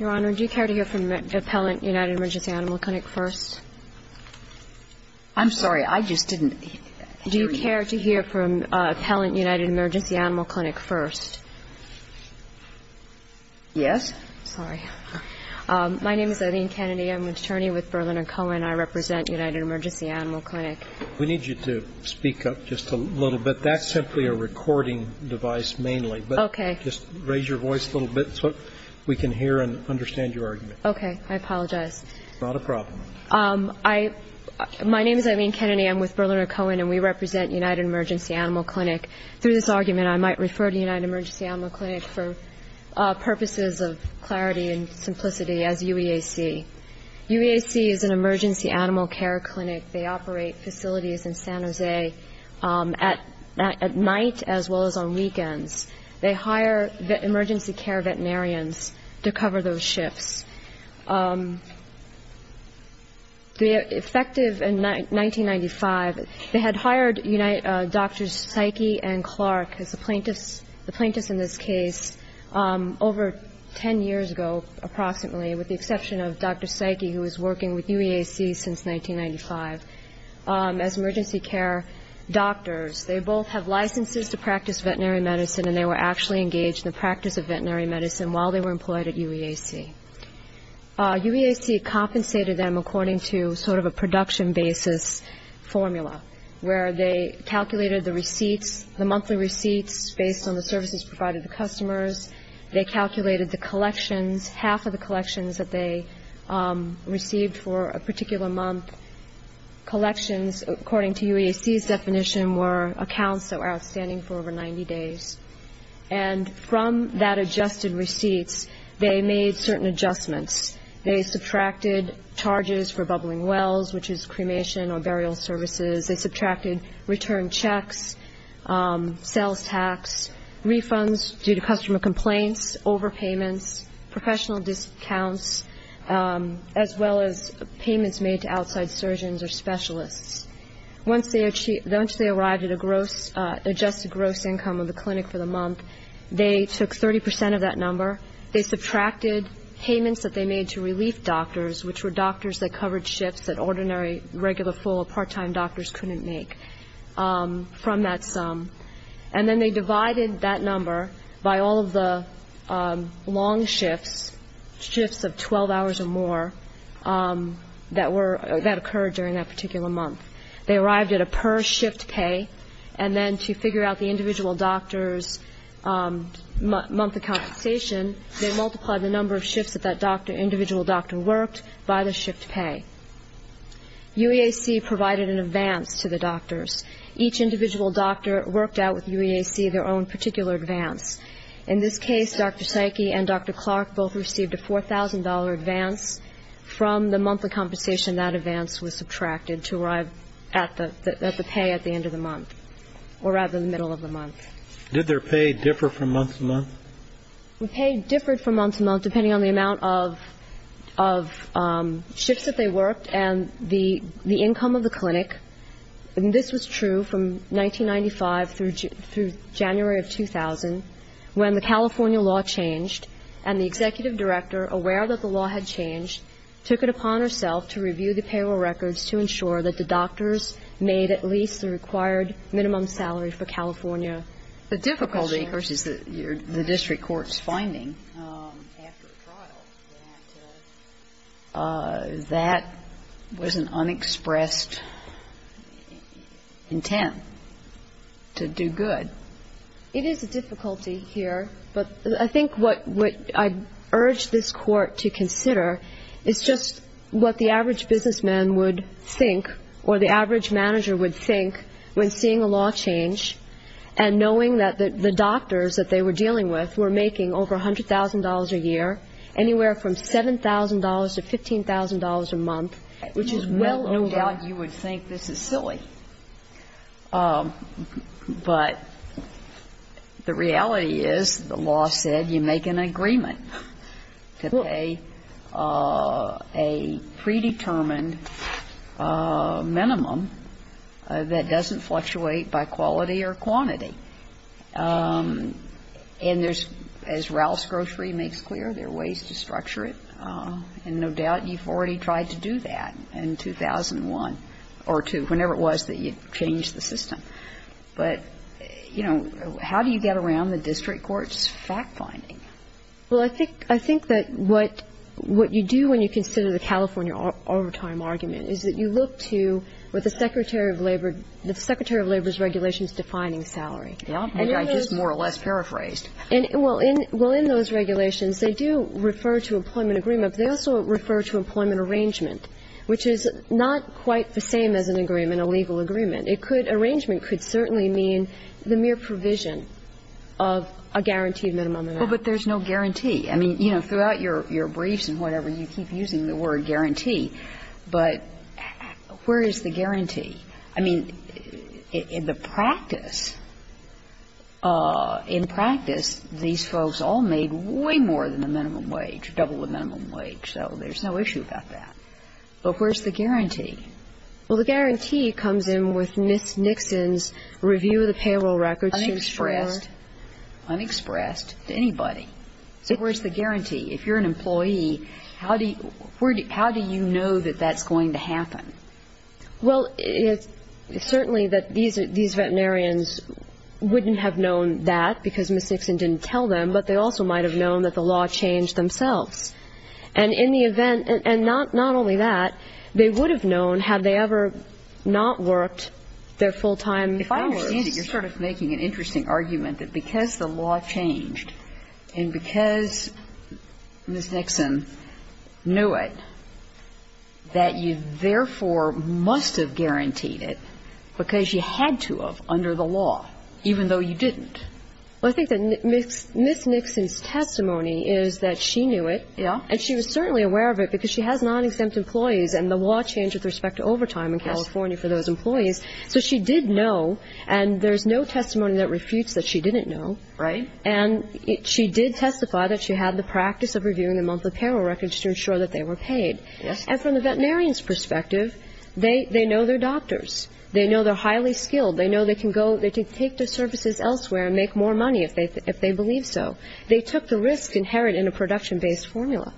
Animal Clinic first? I'm sorry, I just didn't hear you. Do you care to hear from Appellant United Emergency Animal Clinic first? Yes. Sorry. My name is Eileen Kennedy. I'm an attorney with Berliner Cohen. I represent United Emergency Animal Clinic. We need you to speak up just a little bit. That's simply a recording device mainly. Thank you. Thank you. Thank you. Thank you. Thank you. Thank you. Thank you. Thank you. Thank you. Thank you. Thank you. Thank you. I'm embarrassed to hear and understand your argument. Okay. I apologize. It's not a problem. My name is Eileen Kennedy. I'm with Berliner Cohen, and we represent United Emergency Animal Clinic. Through this argument I might refer to United Emergency Animal Clinic for purposes of clarity and simplicity as UEAC. UEAC is an emergency animal care clinic. They operate facilities in San Jose at night as well as on weekends. They hire emergency care veterinarians to cover those shifts. The effective in 1995, they had hired doctors Psyche and Clark as the plaintiffs in this case over 10 years ago approximately, with the exception of Dr. Psyche, who was working with UEAC since 1995, as emergency care doctors. They both have licenses to practice veterinary medicine, and they were actually engaged in the practice of veterinary medicine while they were employed at UEAC. UEAC compensated them according to sort of a production basis formula, where they calculated the receipts, the monthly receipts based on the services provided to customers. They calculated the collections, half of the collections that they received for a particular month. Collections according to UEAC's definition were accounts that were outstanding for over 90 days. And from that adjusted receipts, they made certain adjustments. They subtracted charges for bubbling wells, which is cremation or burial services. They subtracted return checks, sales tax, refunds due to customer complaints, overpayments, professional discounts, as well as payments made to outside surgeons or specialists. Once they arrived at a gross, adjusted gross income of the clinic for the month, they took 30 percent of that number. They subtracted payments that they made to relief doctors, which were doctors that covered shifts that ordinary, regular, full or part-time doctors couldn't make from that sum. And then they divided that number by all of the long shifts, shifts of 12 hours or more, that were, that occurred during that particular month. They arrived at a per-shift pay. And then to figure out the individual doctor's month of compensation, they multiplied the number of shifts that that doctor, individual doctor worked by the shift pay. UEAC provided an advance to the doctors. Each individual doctor worked out with UEAC their own particular advance. In this case, Dr. Psyche and Dr. Clark both received a $4,000 advance. From the monthly compensation, that advance was subtracted to arrive at the, at the pay at the end of the month, or rather the middle of the month. Did their pay differ from month to month? Pay differed from month to month, depending on the amount of, of shifts that they worked and the, the income of the clinic. And this was true from 1995 through, through January of 2000, when the California law changed, and the executive director, aware that the law had changed, took it upon herself to review the payroll records to ensure that the doctors made at least the required minimum salary for California. The difficulty, of course, is that you're, the district court's finding, after trial, that, that was an unexpressed intent to do good. It is a difficulty here, but I think what, what I urge this court to consider is just what the average businessman would think, or the average manager would think, when seeing a law change, and knowing that the, the doctors that they were dealing with were making over $100,000 a year, anywhere from $7,000 to $15,000 a month, which is well over. No doubt you would think this is silly, but the reality is the law said you make an agreement to pay a predetermined minimum that doesn't fluctuate by quality or quantity. And there's, as Ralph's Grocery makes clear, there are ways to structure it, and no doubt you've already tried to do that in 2001 or 2, whenever it was that you changed the system. But, you know, how do you get around the district court's fact-finding? Well, I think, I think that what, what you do when you consider the California overtime argument is that you look to what the Secretary of Labor, the Secretary of Labor's regulations defining salary. Yeah, I just more or less paraphrased. And, well, in, well, in those regulations, they do refer to employment agreement, but they also refer to employment arrangement, which is not quite the same as an agreement, a legal agreement. It could, arrangement could certainly mean the mere provision of a guaranteed minimum amount. Well, but there's no guarantee. I mean, you know, throughout your, your briefs and whatever, you keep using the word guarantee, but where is the guarantee? I mean, in the practice of, in practice, these folks all made way more than the minimum wage, double the minimum wage, so there's no issue about that. But where's the guarantee? Well, the guarantee comes in with Nixon's review of the payroll records. Unexpressed, unexpressed to anybody. So where's the guarantee? If you're an employee, how do you, where do you, how do you know that that's going to happen? Well, it's certainly that these, these veterinarians wouldn't have known that because Ms. Nixon didn't tell them, but they also might have known that the law changed themselves. And in the event, and not, not only that, they would have known had they ever not worked their full-time hours. If I understand it, you're sort of making an interesting argument that because the law changed and because Ms. Nixon knew it, that you therefore would have known that the law would have, or must have, guaranteed it because you had to have under the law, even though you didn't. Well, I think that Ms. Nixon's testimony is that she knew it, and she was certainly aware of it because she has non-exempt employees, and the law changed with respect to overtime in California for those employees. So she did know, and there's no testimony that refutes that she didn't know. Right. And she did testify that she had the practice of reviewing the monthly payroll records to ensure that they were paid. Yes. And from the veterinarian's perspective, they, they know their doctors. They know they're highly skilled. They know they can go, they can take the services elsewhere and make more money if they, if they believe so. They took the risk inherent in a production-based formula.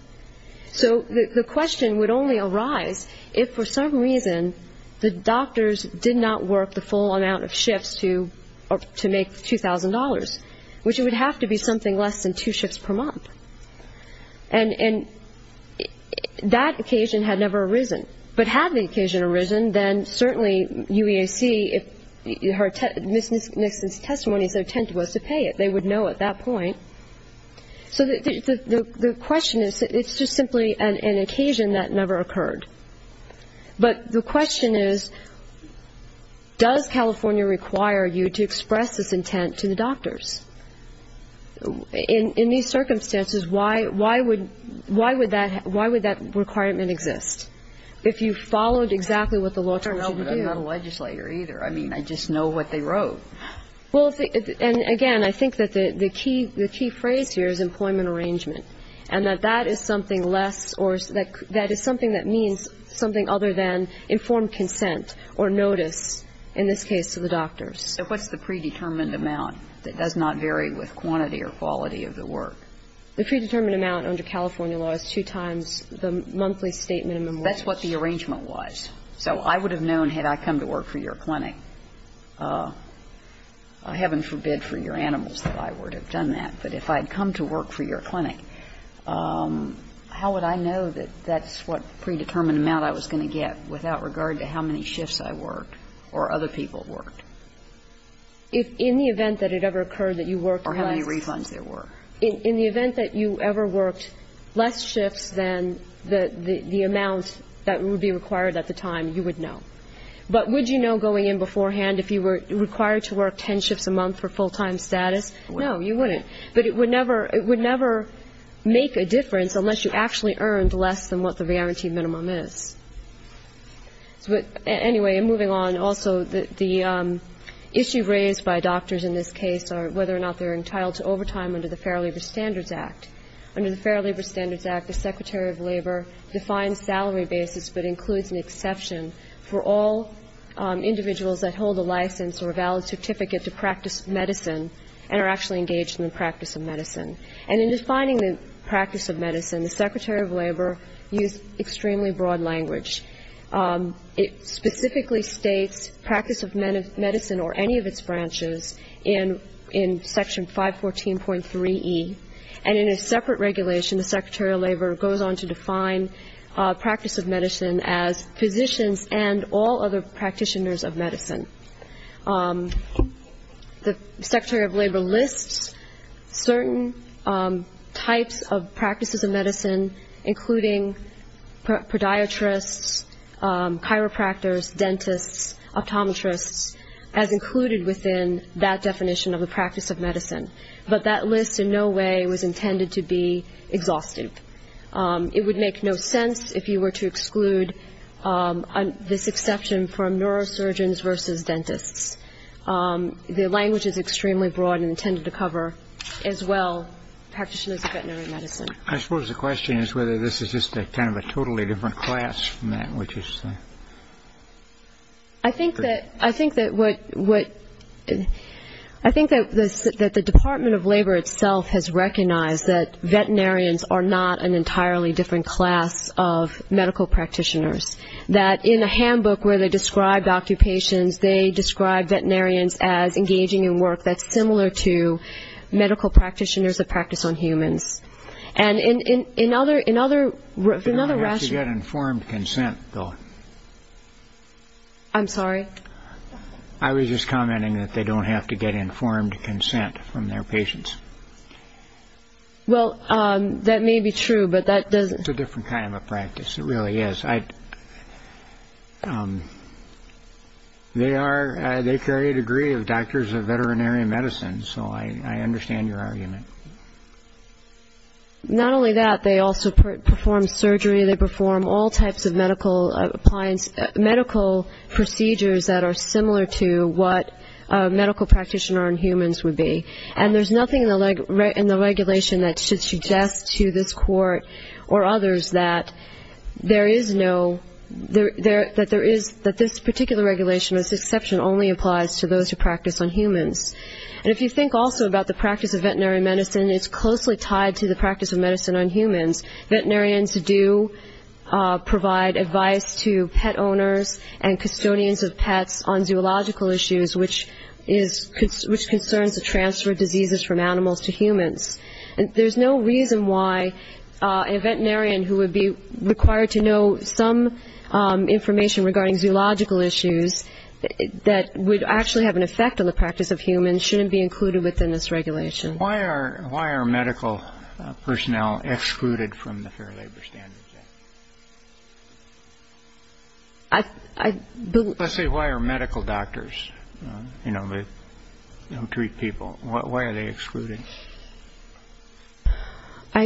So the, the question would only arise if, for some reason, the doctors did not work the full amount of shifts to, or to make $2,000, which would have to be something less than two shifts per month. And, and that occasion had never arisen. But had the occasion arisen, then certainly UEAC, if Ms. Nixon's testimony is their intent was to pay it, they would know at that point. So the, the, the question is, it's just simply an, an occasion that never occurred. But the question is, does California require you to express this intent to the doctors? In, in these circumstances, why, why would, why would that, why would that requirement exist? If you followed exactly what the law told you to do? I don't know, but I'm not a legislator either. I mean, I just know what they wrote. Well, and again, I think that the, the key, the key phrase here is employment arrangement. And that that is something less or that, that is something that means something other than informed consent or notice, in this case, to the doctors. So what's the predetermined amount that does not vary with quantity or quality of the work? The predetermined amount under California law is two times the monthly state minimum wage. That's what the arrangement was. So I would have known had I come to work for your clinic, heaven forbid for your animals that I would have done that, but if I had come to work for your clinic, how would I know that that's what predetermined amount I was going to get without regard to how many shifts I worked or other people worked? If in the event that it ever occurred that you worked less. Or how many refunds there were. In the event that you ever worked less shifts than the, the amount that would be required at the time, you would know. But would you know going in beforehand if you were required to work 10 shifts a month for full-time status? No, you wouldn't. But it would never, it would never make a difference unless you actually earned less than what the guaranteed minimum is. Anyway, moving on, also, the issue raised by doctors in this case are whether or not they're entitled to overtime under the Fair Labor Standards Act. Under the Fair Labor Standards Act, the Secretary of Labor defines salary basis but includes an exception for all individuals that hold a license or a valid certificate to practice medicine and are actually engaged in the practice of medicine. And in defining the practice of medicine, the Secretary of Labor used extremely broad language. It specifically states practice of medicine or any of its branches in, in Section 514.3E. And in a separate regulation, the Secretary of Labor goes on to define practice of medicine as physicians and all other practitioners of medicine. The Secretary of Labor lists certain types of practices of medicine, including podiatrists, chiropractors, dentists, optometrists, as included within that definition of the practice of medicine. But that list in no way was intended to be exhaustive. It would make no sense if you were to exclude this exception from neurosurgeons versus dentists. The language is extremely broad and intended to cover, as well, practitioners of veterinary medicine. I suppose the question is whether this is just a kind of a totally different class from that, which is the... I think that, I think that what, what, I think that the, that the Department of Labor itself has recognized that veterinarians are not an entirely different class of medical practitioners. That in a handbook where they described occupations, they described veterinarians as engaging in work that's similar to medical practitioners of practice on humans. And in, in, in other, in other, in other... They don't have to get informed consent, though. I'm sorry? I was just commenting that they don't have to get informed consent from their patients. Well, that may be true, but that doesn't... It's a different kind of a practice. It really is. I... They are, they carry a degree of doctors of veterinary medicine, so I understand your argument. Not only that, they also perform surgery. They perform all types of medical appliance, medical procedures that are similar to what a medical practitioner on humans would be. And there's nothing in the regulation that should suggest to this court or others that there is no, that there is, that this particular regulation as an exception only applies to those who practice on humans. And if you think also about the practice of veterinary medicine, it's closely tied to the practice of medicine on humans. Veterinarians do provide advice to pet owners and custodians of pets on zoological issues, which is, which concerns the transfer of diseases from animals to humans. And there's no reason why a veterinarian who would be required to know some information regarding zoological issues that would actually have an effect on the practice of humans shouldn't be included within this regulation. Why are medical personnel excluded from the Fair Labor Standards Act? I... I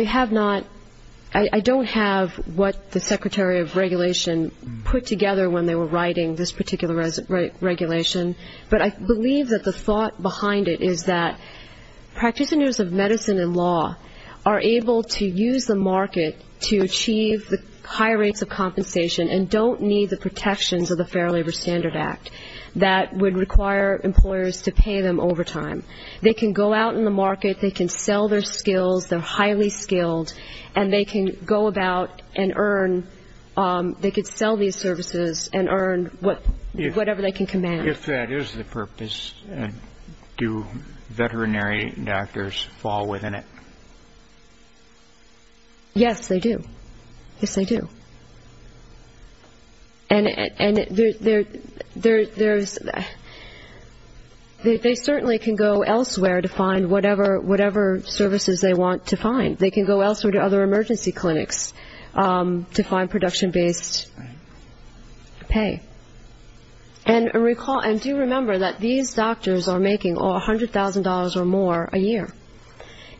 have not, I don't have what the secretary of regulation put together when they were writing this particular regulation, but I believe that the thought behind it is that practitioners of medicine and law are able to use the market to achieve the higher rates of compensation and don't need the protections of the Fair Labor Standards Act that would require employers to pay them overtime. They can go out in the market, they can sell their skills, they're highly skilled, and they can go about and earn, they could sell these services and earn whatever they can command. If that is the purpose, do veterinary doctors fall within it? Yes, they do. Yes, they do. And they certainly can go elsewhere to find whatever services they want to find. They can go elsewhere to other emergency clinics to find production-based pay. And do remember that these doctors are making $100,000 or more a year,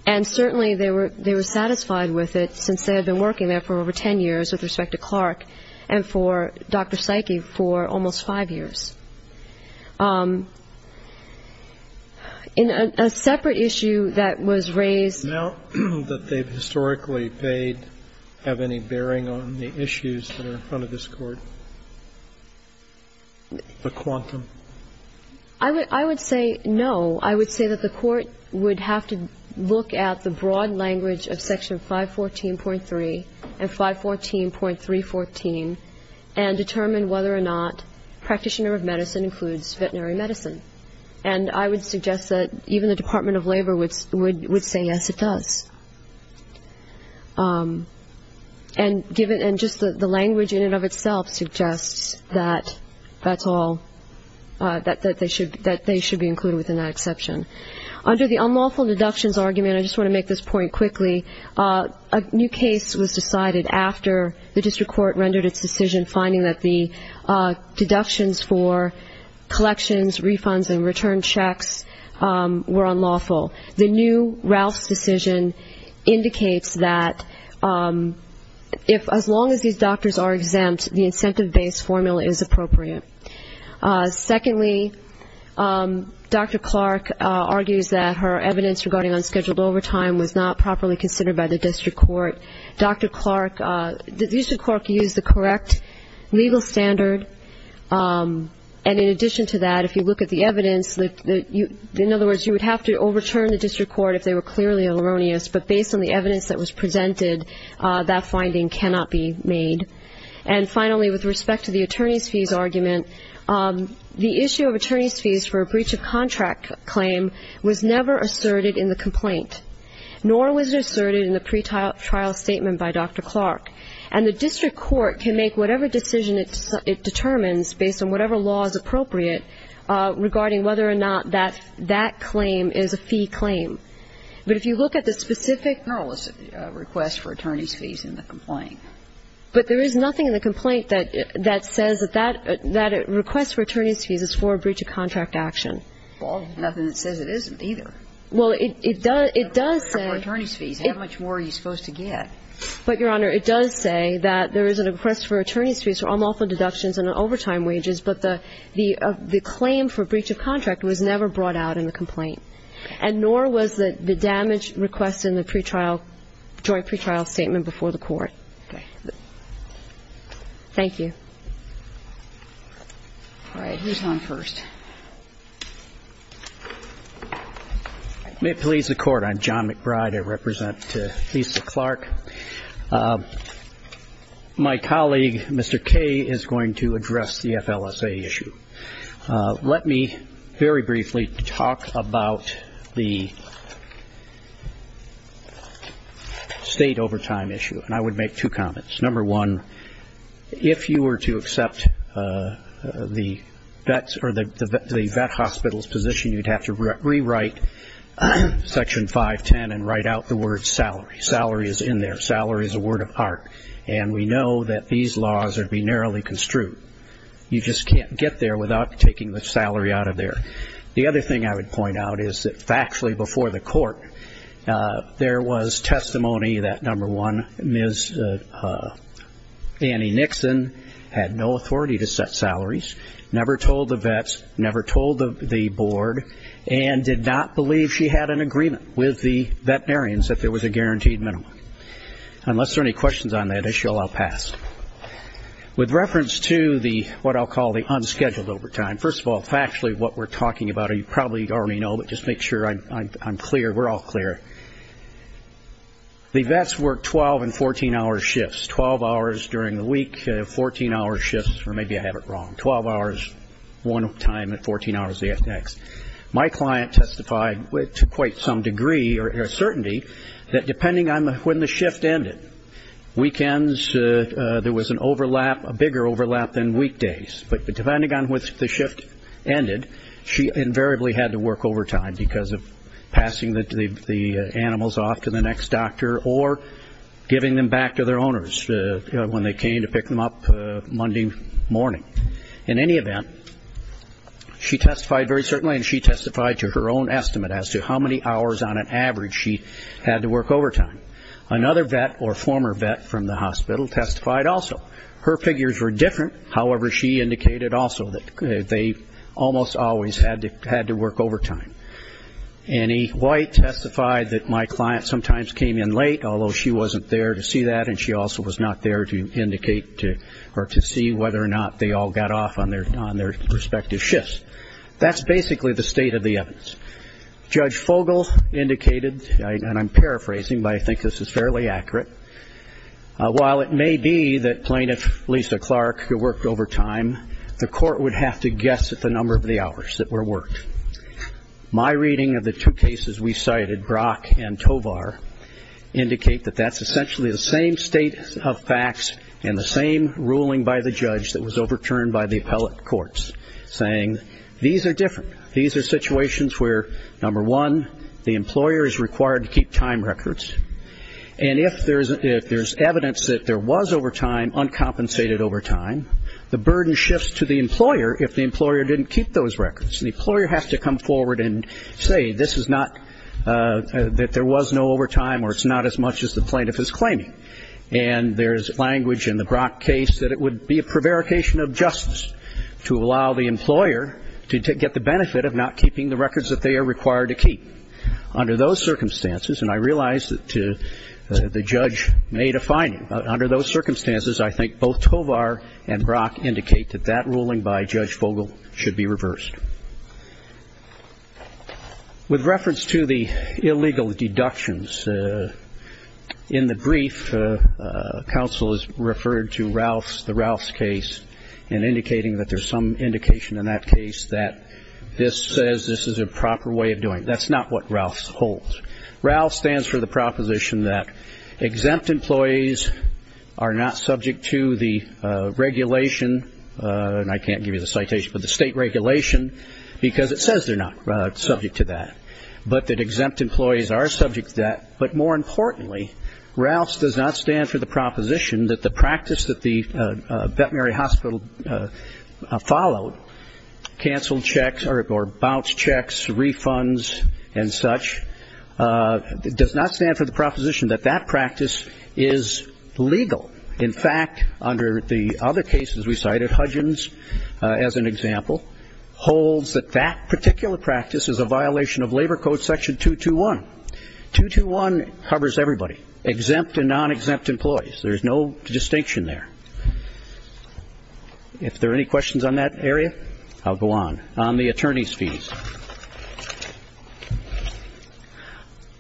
and certainly they were satisfied with it since they had been working there for over 10 years with respect to Clark and for Dr. Psyche for almost five years. In a separate issue that was raised ---- Now that they've historically paid, have any bearing on the issues that are in front of this Court? The quantum? I would say no. I would say that the Court would have to look at the broad language of Section 514.3 and 514.314 and determine whether or not practitioner of medicine includes veterinary medicine. And I would suggest that even the Department of Labor would say yes, it does. And just the language in and of itself suggests that that's all, that they should be included within that exception. Under the unlawful deductions argument, I just want to make this point quickly, a new case was decided after the district court rendered its decision finding that the deductions for collections, refunds, and return checks were unlawful. The new Ralph's decision indicates that as long as these doctors are exempt, the incentive-based formula is appropriate. Secondly, Dr. Clark argues that her evidence regarding unscheduled overtime was not properly considered by the district court. The district court used the correct legal standard. And in addition to that, if you look at the evidence, in other words you would have to overturn the district court if they were clearly erroneous, but based on the evidence that was presented, that finding cannot be made. And finally, with respect to the attorney's fees argument, the issue of attorney's fees for a breach of contract claim was never asserted in the complaint, nor was it asserted in the pretrial statement by Dr. Clark. And the district court can make whatever decision it determines based on whatever law is appropriate regarding whether or not that claim is a fee claim. But if you look at the specific request for attorney's fees in the complaint. But there is nothing in the complaint that says that that request for attorney's fees is for a breach of contract action. Well, there's nothing that says it isn't either. Well, it does say. For attorney's fees, how much more are you supposed to get? But, Your Honor, it does say that there is a request for attorney's fees for unlawful deductions and overtime wages, but the claim for breach of contract was never brought out in the complaint, and nor was the damage request in the joint pretrial statement before the court. Thank you. All right. Who's on first? May it please the Court. I'm John McBride. I represent Lisa Clark. My colleague, Mr. Kaye, is going to address the FLSA issue. Let me very briefly talk about the state overtime issue, and I would make two comments. Number one, if you were to accept the vet hospital's position, you'd have to rewrite Section 510 and write out the word salary. Salary is in there. Salary is a word of heart, and we know that these laws are to be narrowly construed. You just can't get there without taking the salary out of there. The other thing I would point out is that factually before the court, there was testimony that, number one, Ms. Annie Nixon had no authority to set salaries, never told the vets, never told the board, and did not believe she had an agreement with the veterinarians that there was a guaranteed minimum. Unless there are any questions on that issue, I'll pass. With reference to what I'll call the unscheduled overtime, first of all, factually what we're talking about, you probably already know, but just make sure I'm clear, we're all clear. The vets work 12 and 14-hour shifts, 12 hours during the week, 14-hour shifts, or maybe I have it wrong, 12 hours one time and 14 hours the next. My client testified to quite some degree or certainty that depending on when the shift ended, weekends, there was an overlap, a bigger overlap than weekdays, but depending on when the shift ended, she invariably had to work overtime because of passing the animals off to the next doctor or giving them back to their owners when they came to pick them up Monday morning. In any event, she testified very certainly and she testified to her own estimate as to how many hours on an average she had to work overtime. Another vet or former vet from the hospital testified also. Her figures were different, however, she indicated also that they almost always had to work overtime. Annie White testified that my client sometimes came in late, although she wasn't there to see that and she also was not there to indicate or to see whether or not they all got off on their respective shifts. That's basically the state of the evidence. Judge Fogle indicated, and I'm paraphrasing, but I think this is fairly accurate, while it may be that Plaintiff Lisa Clark worked overtime, the court would have to guess at the number of the hours that were worked. My reading of the two cases we cited, Brock and Tovar, indicate that that's essentially the same state of facts and the same ruling by the judge that was overturned by the appellate courts, saying these are different. These are situations where, number one, the employer is required to keep time records, and if there's evidence that there was overtime uncompensated overtime, the burden shifts to the employer if the employer didn't keep those records. The employer has to come forward and say this is not, that there was no overtime or it's not as much as the plaintiff is claiming, and there's language in the Brock case that it would be a prevarication of justice to allow the employer to get the benefit of not keeping the records that they are required to keep. Under those circumstances, and I realize that the judge may define it, under those circumstances, I think both Tovar and Brock indicate that that ruling by Judge Vogel should be reversed. With reference to the illegal deductions, in the brief, counsel has referred to Ralph's, the Ralph's case, and indicating that there's some indication in that case that this says this is a proper way of doing it. That's not what Ralph's holds. Ralph's stands for the proposition that exempt employees are not subject to the regulation, and I can't give you the citation, but the state regulation, because it says they're not subject to that, but that exempt employees are subject to that, but more importantly, Ralph's does not stand for the proposition that the practice that the veterinary hospital followed, canceled checks or bounced checks, refunds, and such, does not stand for the proposition that that practice is legal. In fact, under the other cases we cited, Hudgins, as an example, holds that that particular practice is a violation of Labor Code Section 221. 221 covers everybody, exempt and non-exempt employees. There's no distinction there. If there are any questions on that area, I'll go on. On the attorney's fees,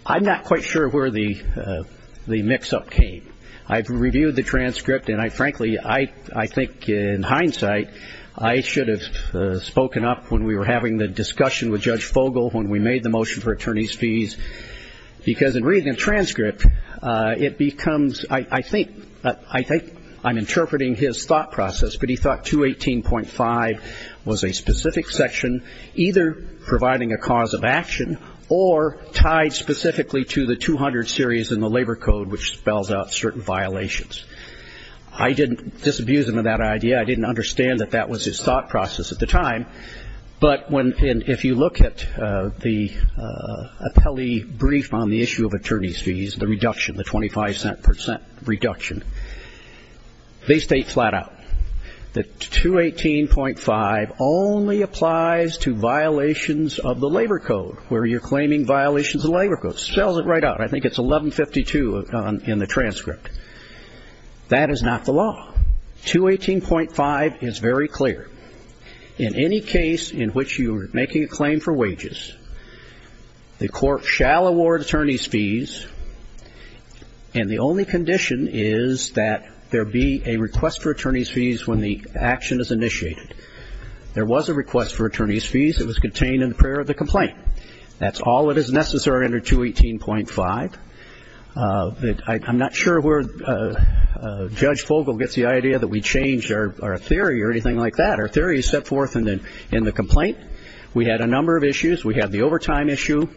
I'm not quite sure where the mix-up came. I've reviewed the transcript, and I frankly, I think in hindsight, I should have spoken up when we were having the discussion with Judge Fogle when we made the motion for attorney's fees, because in reading the transcript, it becomes, I think, I'm interpreting his thought process, but he thought 218.5 was a specific section either providing a cause of action or tied specifically to the 200 series in the Labor Code, which spells out certain violations. I didn't disabuse him of that idea. I didn't understand that that was his thought process at the time, but if you look at the appellee brief on the issue of attorney's fees, the reduction, the 25-cent percent reduction, they state flat out that 218.5 only applies to violations of the Labor Code, where you're claiming violations of the Labor Code. Spells it right out. I think it's 1152 in the transcript. That is not the law. 218.5 is very clear. In any case in which you are making a claim for wages, the court shall award attorney's fees, and the only condition is that there be a request for attorney's fees when the action is initiated. There was a request for attorney's fees. It was contained in the prayer of the complaint. That's all that is necessary under 218.5. I'm not sure where Judge Fogle gets the idea that we changed our theory or anything like that. Our theory is set forth in the complaint. We had a number of issues. We had the overtime issue.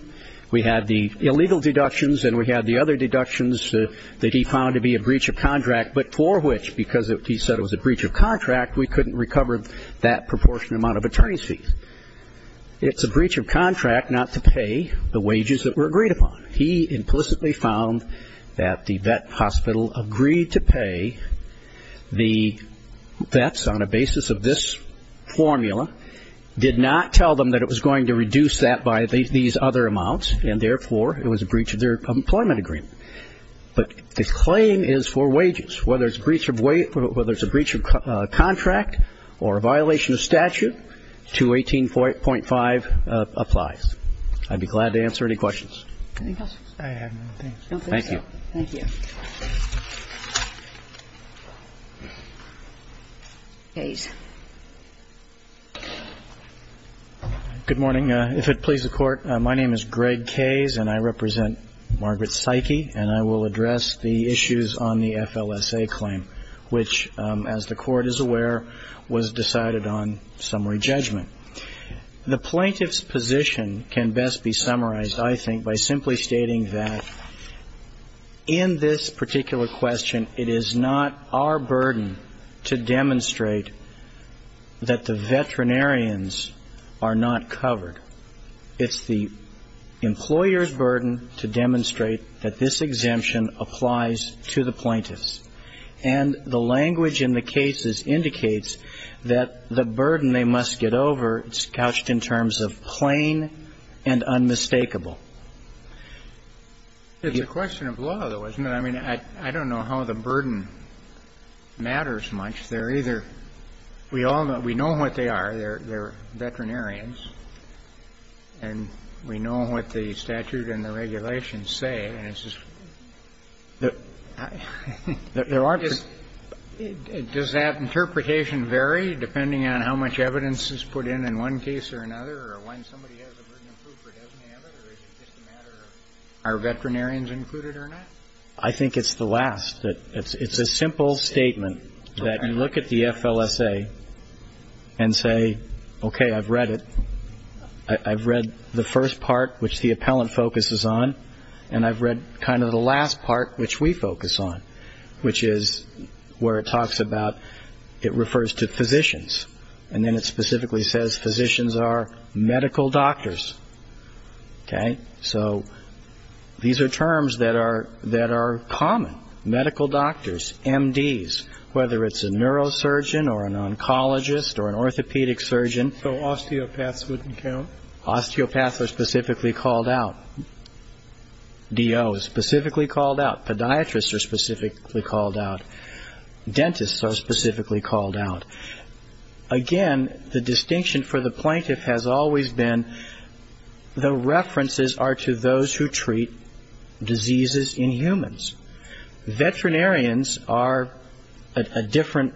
We had the illegal deductions, and we had the other deductions that he found to be a breach of contract, but for which, because he said it was a breach of contract, we couldn't recover that proportionate amount of attorney's fees. It's a breach of contract not to pay the wages that were agreed upon. He implicitly found that the vet hospital agreed to pay the vets on a basis of this formula, did not tell them that it was going to reduce that by these other amounts, and therefore it was a breach of their employment agreement. But the claim is for wages. Whether it's a breach of contract or a violation of statute, 218.5 applies. I'd be glad to answer any questions. Any questions? I have none. Thank you. Thank you. Kays. Good morning. If it pleases the Court, my name is Greg Kays, and I represent Margaret Psyche, and I will address the issues on the FLSA claim, which, as the Court is aware, was decided on summary judgment. The plaintiff's position can best be summarized, I think, by simply stating that in this particular question, it is not our burden to demonstrate that the veterinarians are not covered. It's the employer's burden to demonstrate that this exemption applies to the plaintiffs. And the language in the cases indicates that the burden they must get over is couched in terms of plain and unmistakable. It's a question of law, though, isn't it? I mean, I don't know how the burden matters much. They're either we all know we know what they are. They're veterinarians, and we know what the statute and the regulations say. And it's just, there aren't. Does that interpretation vary depending on how much evidence is put in in one case or another or when somebody has a burden of proof or doesn't have it, or is it just a matter of are veterinarians included or not? I think it's the last. It's a simple statement that you look at the FLSA and say, okay, I've read it. I've read the first part, which the appellant focuses on, and I've read kind of the last part, which we focus on, which is where it talks about it refers to physicians, and then it specifically says physicians are medical doctors. Okay? So these are terms that are common, medical doctors, MDs, whether it's a neurosurgeon or an oncologist or an orthopedic surgeon. So osteopaths wouldn't count? Osteopaths are specifically called out. DO is specifically called out. Podiatrists are specifically called out. Dentists are specifically called out. Again, the distinction for the plaintiff has always been the references are to those who treat diseases in humans. Veterinarians are a different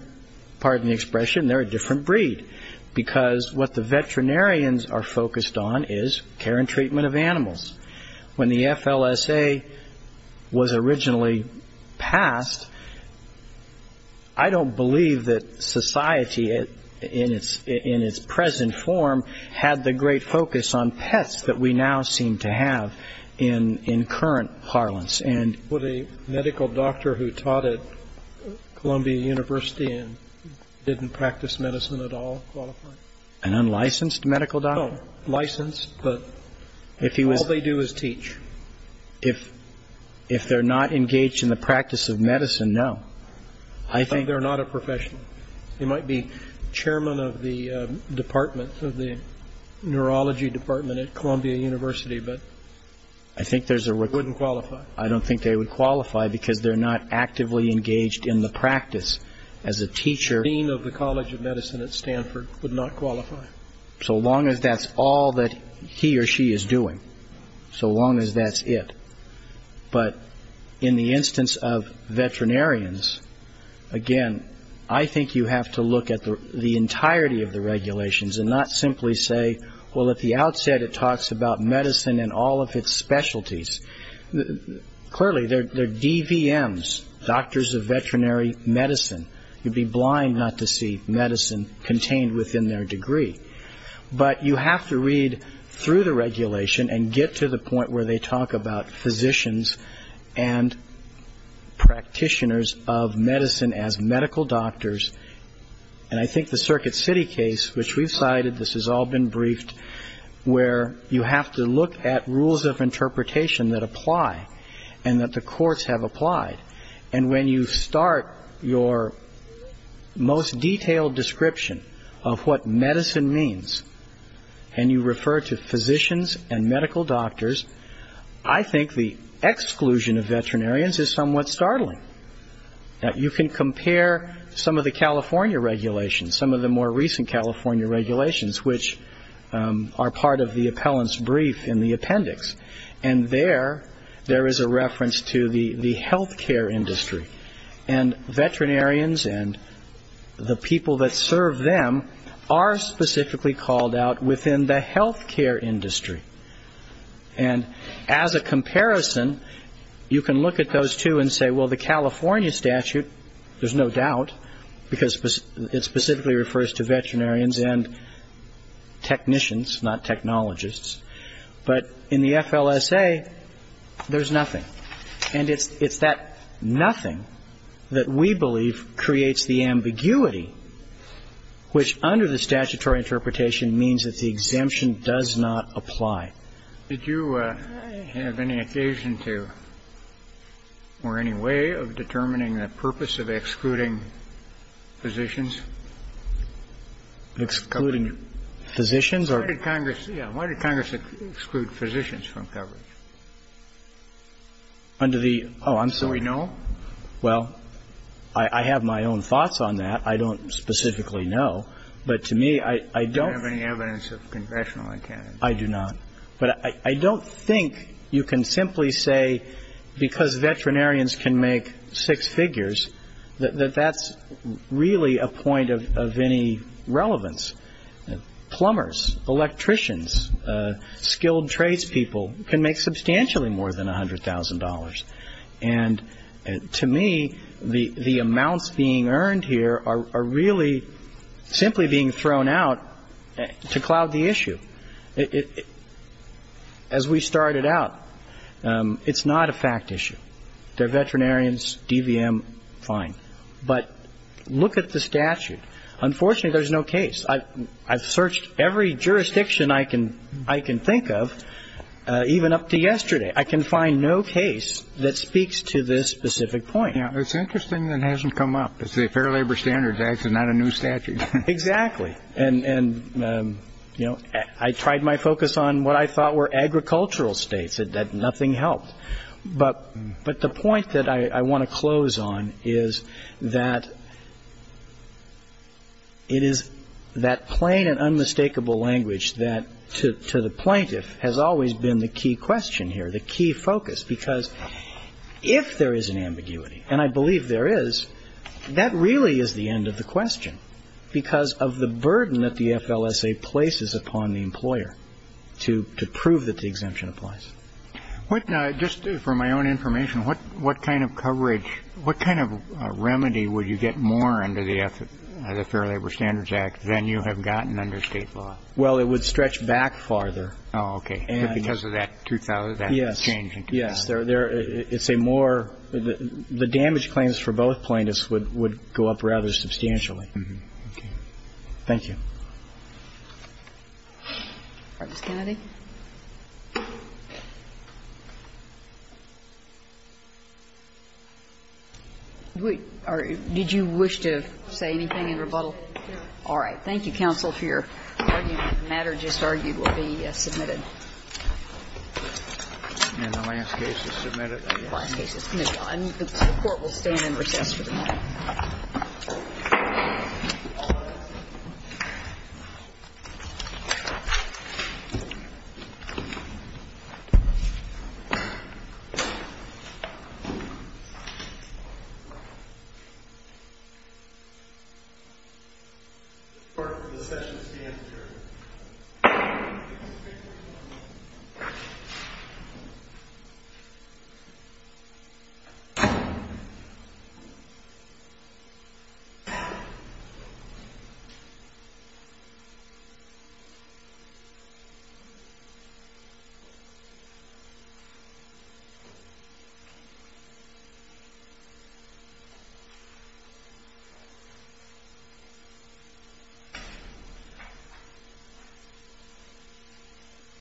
part of the expression. They're a different breed, because what the veterinarians are focused on is care and treatment of animals. When the FLSA was originally passed, I don't believe that society in its present form had the great focus on pets that we now seem to have in current parlance. Would a medical doctor who taught at Columbia University and didn't practice medicine at all qualify? An unlicensed medical doctor? No, licensed, but all they do is teach. If they're not engaged in the practice of medicine, no. I think they're not a professional. They might be chairman of the department, of the neurology department at Columbia University, but they wouldn't qualify. I don't think they would qualify because they're not actively engaged in the practice as a teacher. The dean of the College of Medicine at Stanford would not qualify. So long as that's all that he or she is doing, so long as that's it. But in the instance of veterinarians, again, I think you have to look at the entirety of the regulations and not simply say, well, at the outset it talks about medicine and all of its specialties. Clearly, they're DVMs, doctors of veterinary medicine. You'd be blind not to see medicine contained within their degree. But you have to read through the regulation and get to the point where they talk about physicians and practitioners of medicine as medical doctors. And I think the Circuit City case, which we've cited, this has all been briefed, where you have to look at rules of interpretation that apply and that the courts have applied. And when you start your most detailed description of what medicine means and you refer to physicians and medical doctors, I think the exclusion of veterinarians is somewhat startling. Now, you can compare some of the California regulations, some of the more recent California regulations, which are part of the appellant's brief in the appendix. And there, there is a reference to the health care industry. And veterinarians and the people that serve them are specifically called out within the health care industry. And as a comparison, you can look at those two and say, well, the California statute, there's no doubt, because it specifically refers to veterinarians and technicians, not technologists. But in the FLSA, there's nothing. And it's that nothing that we believe creates the ambiguity, which under the statutory interpretation means that the exemption does not apply. Did you have any occasion to or any way of determining the purpose of excluding physicians? Excluding physicians or? Why did Congress exclude physicians from coverage? Under the, oh, I'm sorry. So we know? Well, I have my own thoughts on that. I don't specifically know. But to me, I don't. Do you have any evidence of congressional intent? I do not. But I don't think you can simply say, because veterinarians can make six figures, that that's really a point of any relevance. Plumbers, electricians, skilled tradespeople can make substantially more than $100,000. And to me, the amounts being earned here are really simply being thrown out to cloud the issue. As we started out, it's not a fact issue. They're veterinarians, DVM, fine. But look at the statute. Unfortunately, there's no case. I've searched every jurisdiction I can think of, even up to yesterday. I can find no case that speaks to this specific point. It's interesting that it hasn't come up. It's the Fair Labor Standards Act. It's not a new statute. Exactly. And, you know, I tried my focus on what I thought were agricultural states. Nothing helped. But the point that I want to close on is that it is that plain and unmistakable language that, to the plaintiff, has always been the key question here, the key focus. Because if there is an ambiguity, and I believe there is, that really is the end of the question because of the burden that the FLSA places upon the employer to prove that the exemption applies. Just for my own information, what kind of coverage, what kind of remedy would you get more under the Fair Labor Standards Act than you have gotten under state law? Well, it would stretch back farther. Oh, okay. Because of that change in 2000. Yes. It's a more the damage claims for both plaintiffs would go up rather substantially. Okay. Thank you. Ms. Kennedy. Did you wish to say anything in rebuttal? No. All right. Thank you, counsel, for your argument. The matter just argued will be submitted. And the last case is submitted? The last case is submitted. The Court will stand in recess for the moment. Thank you.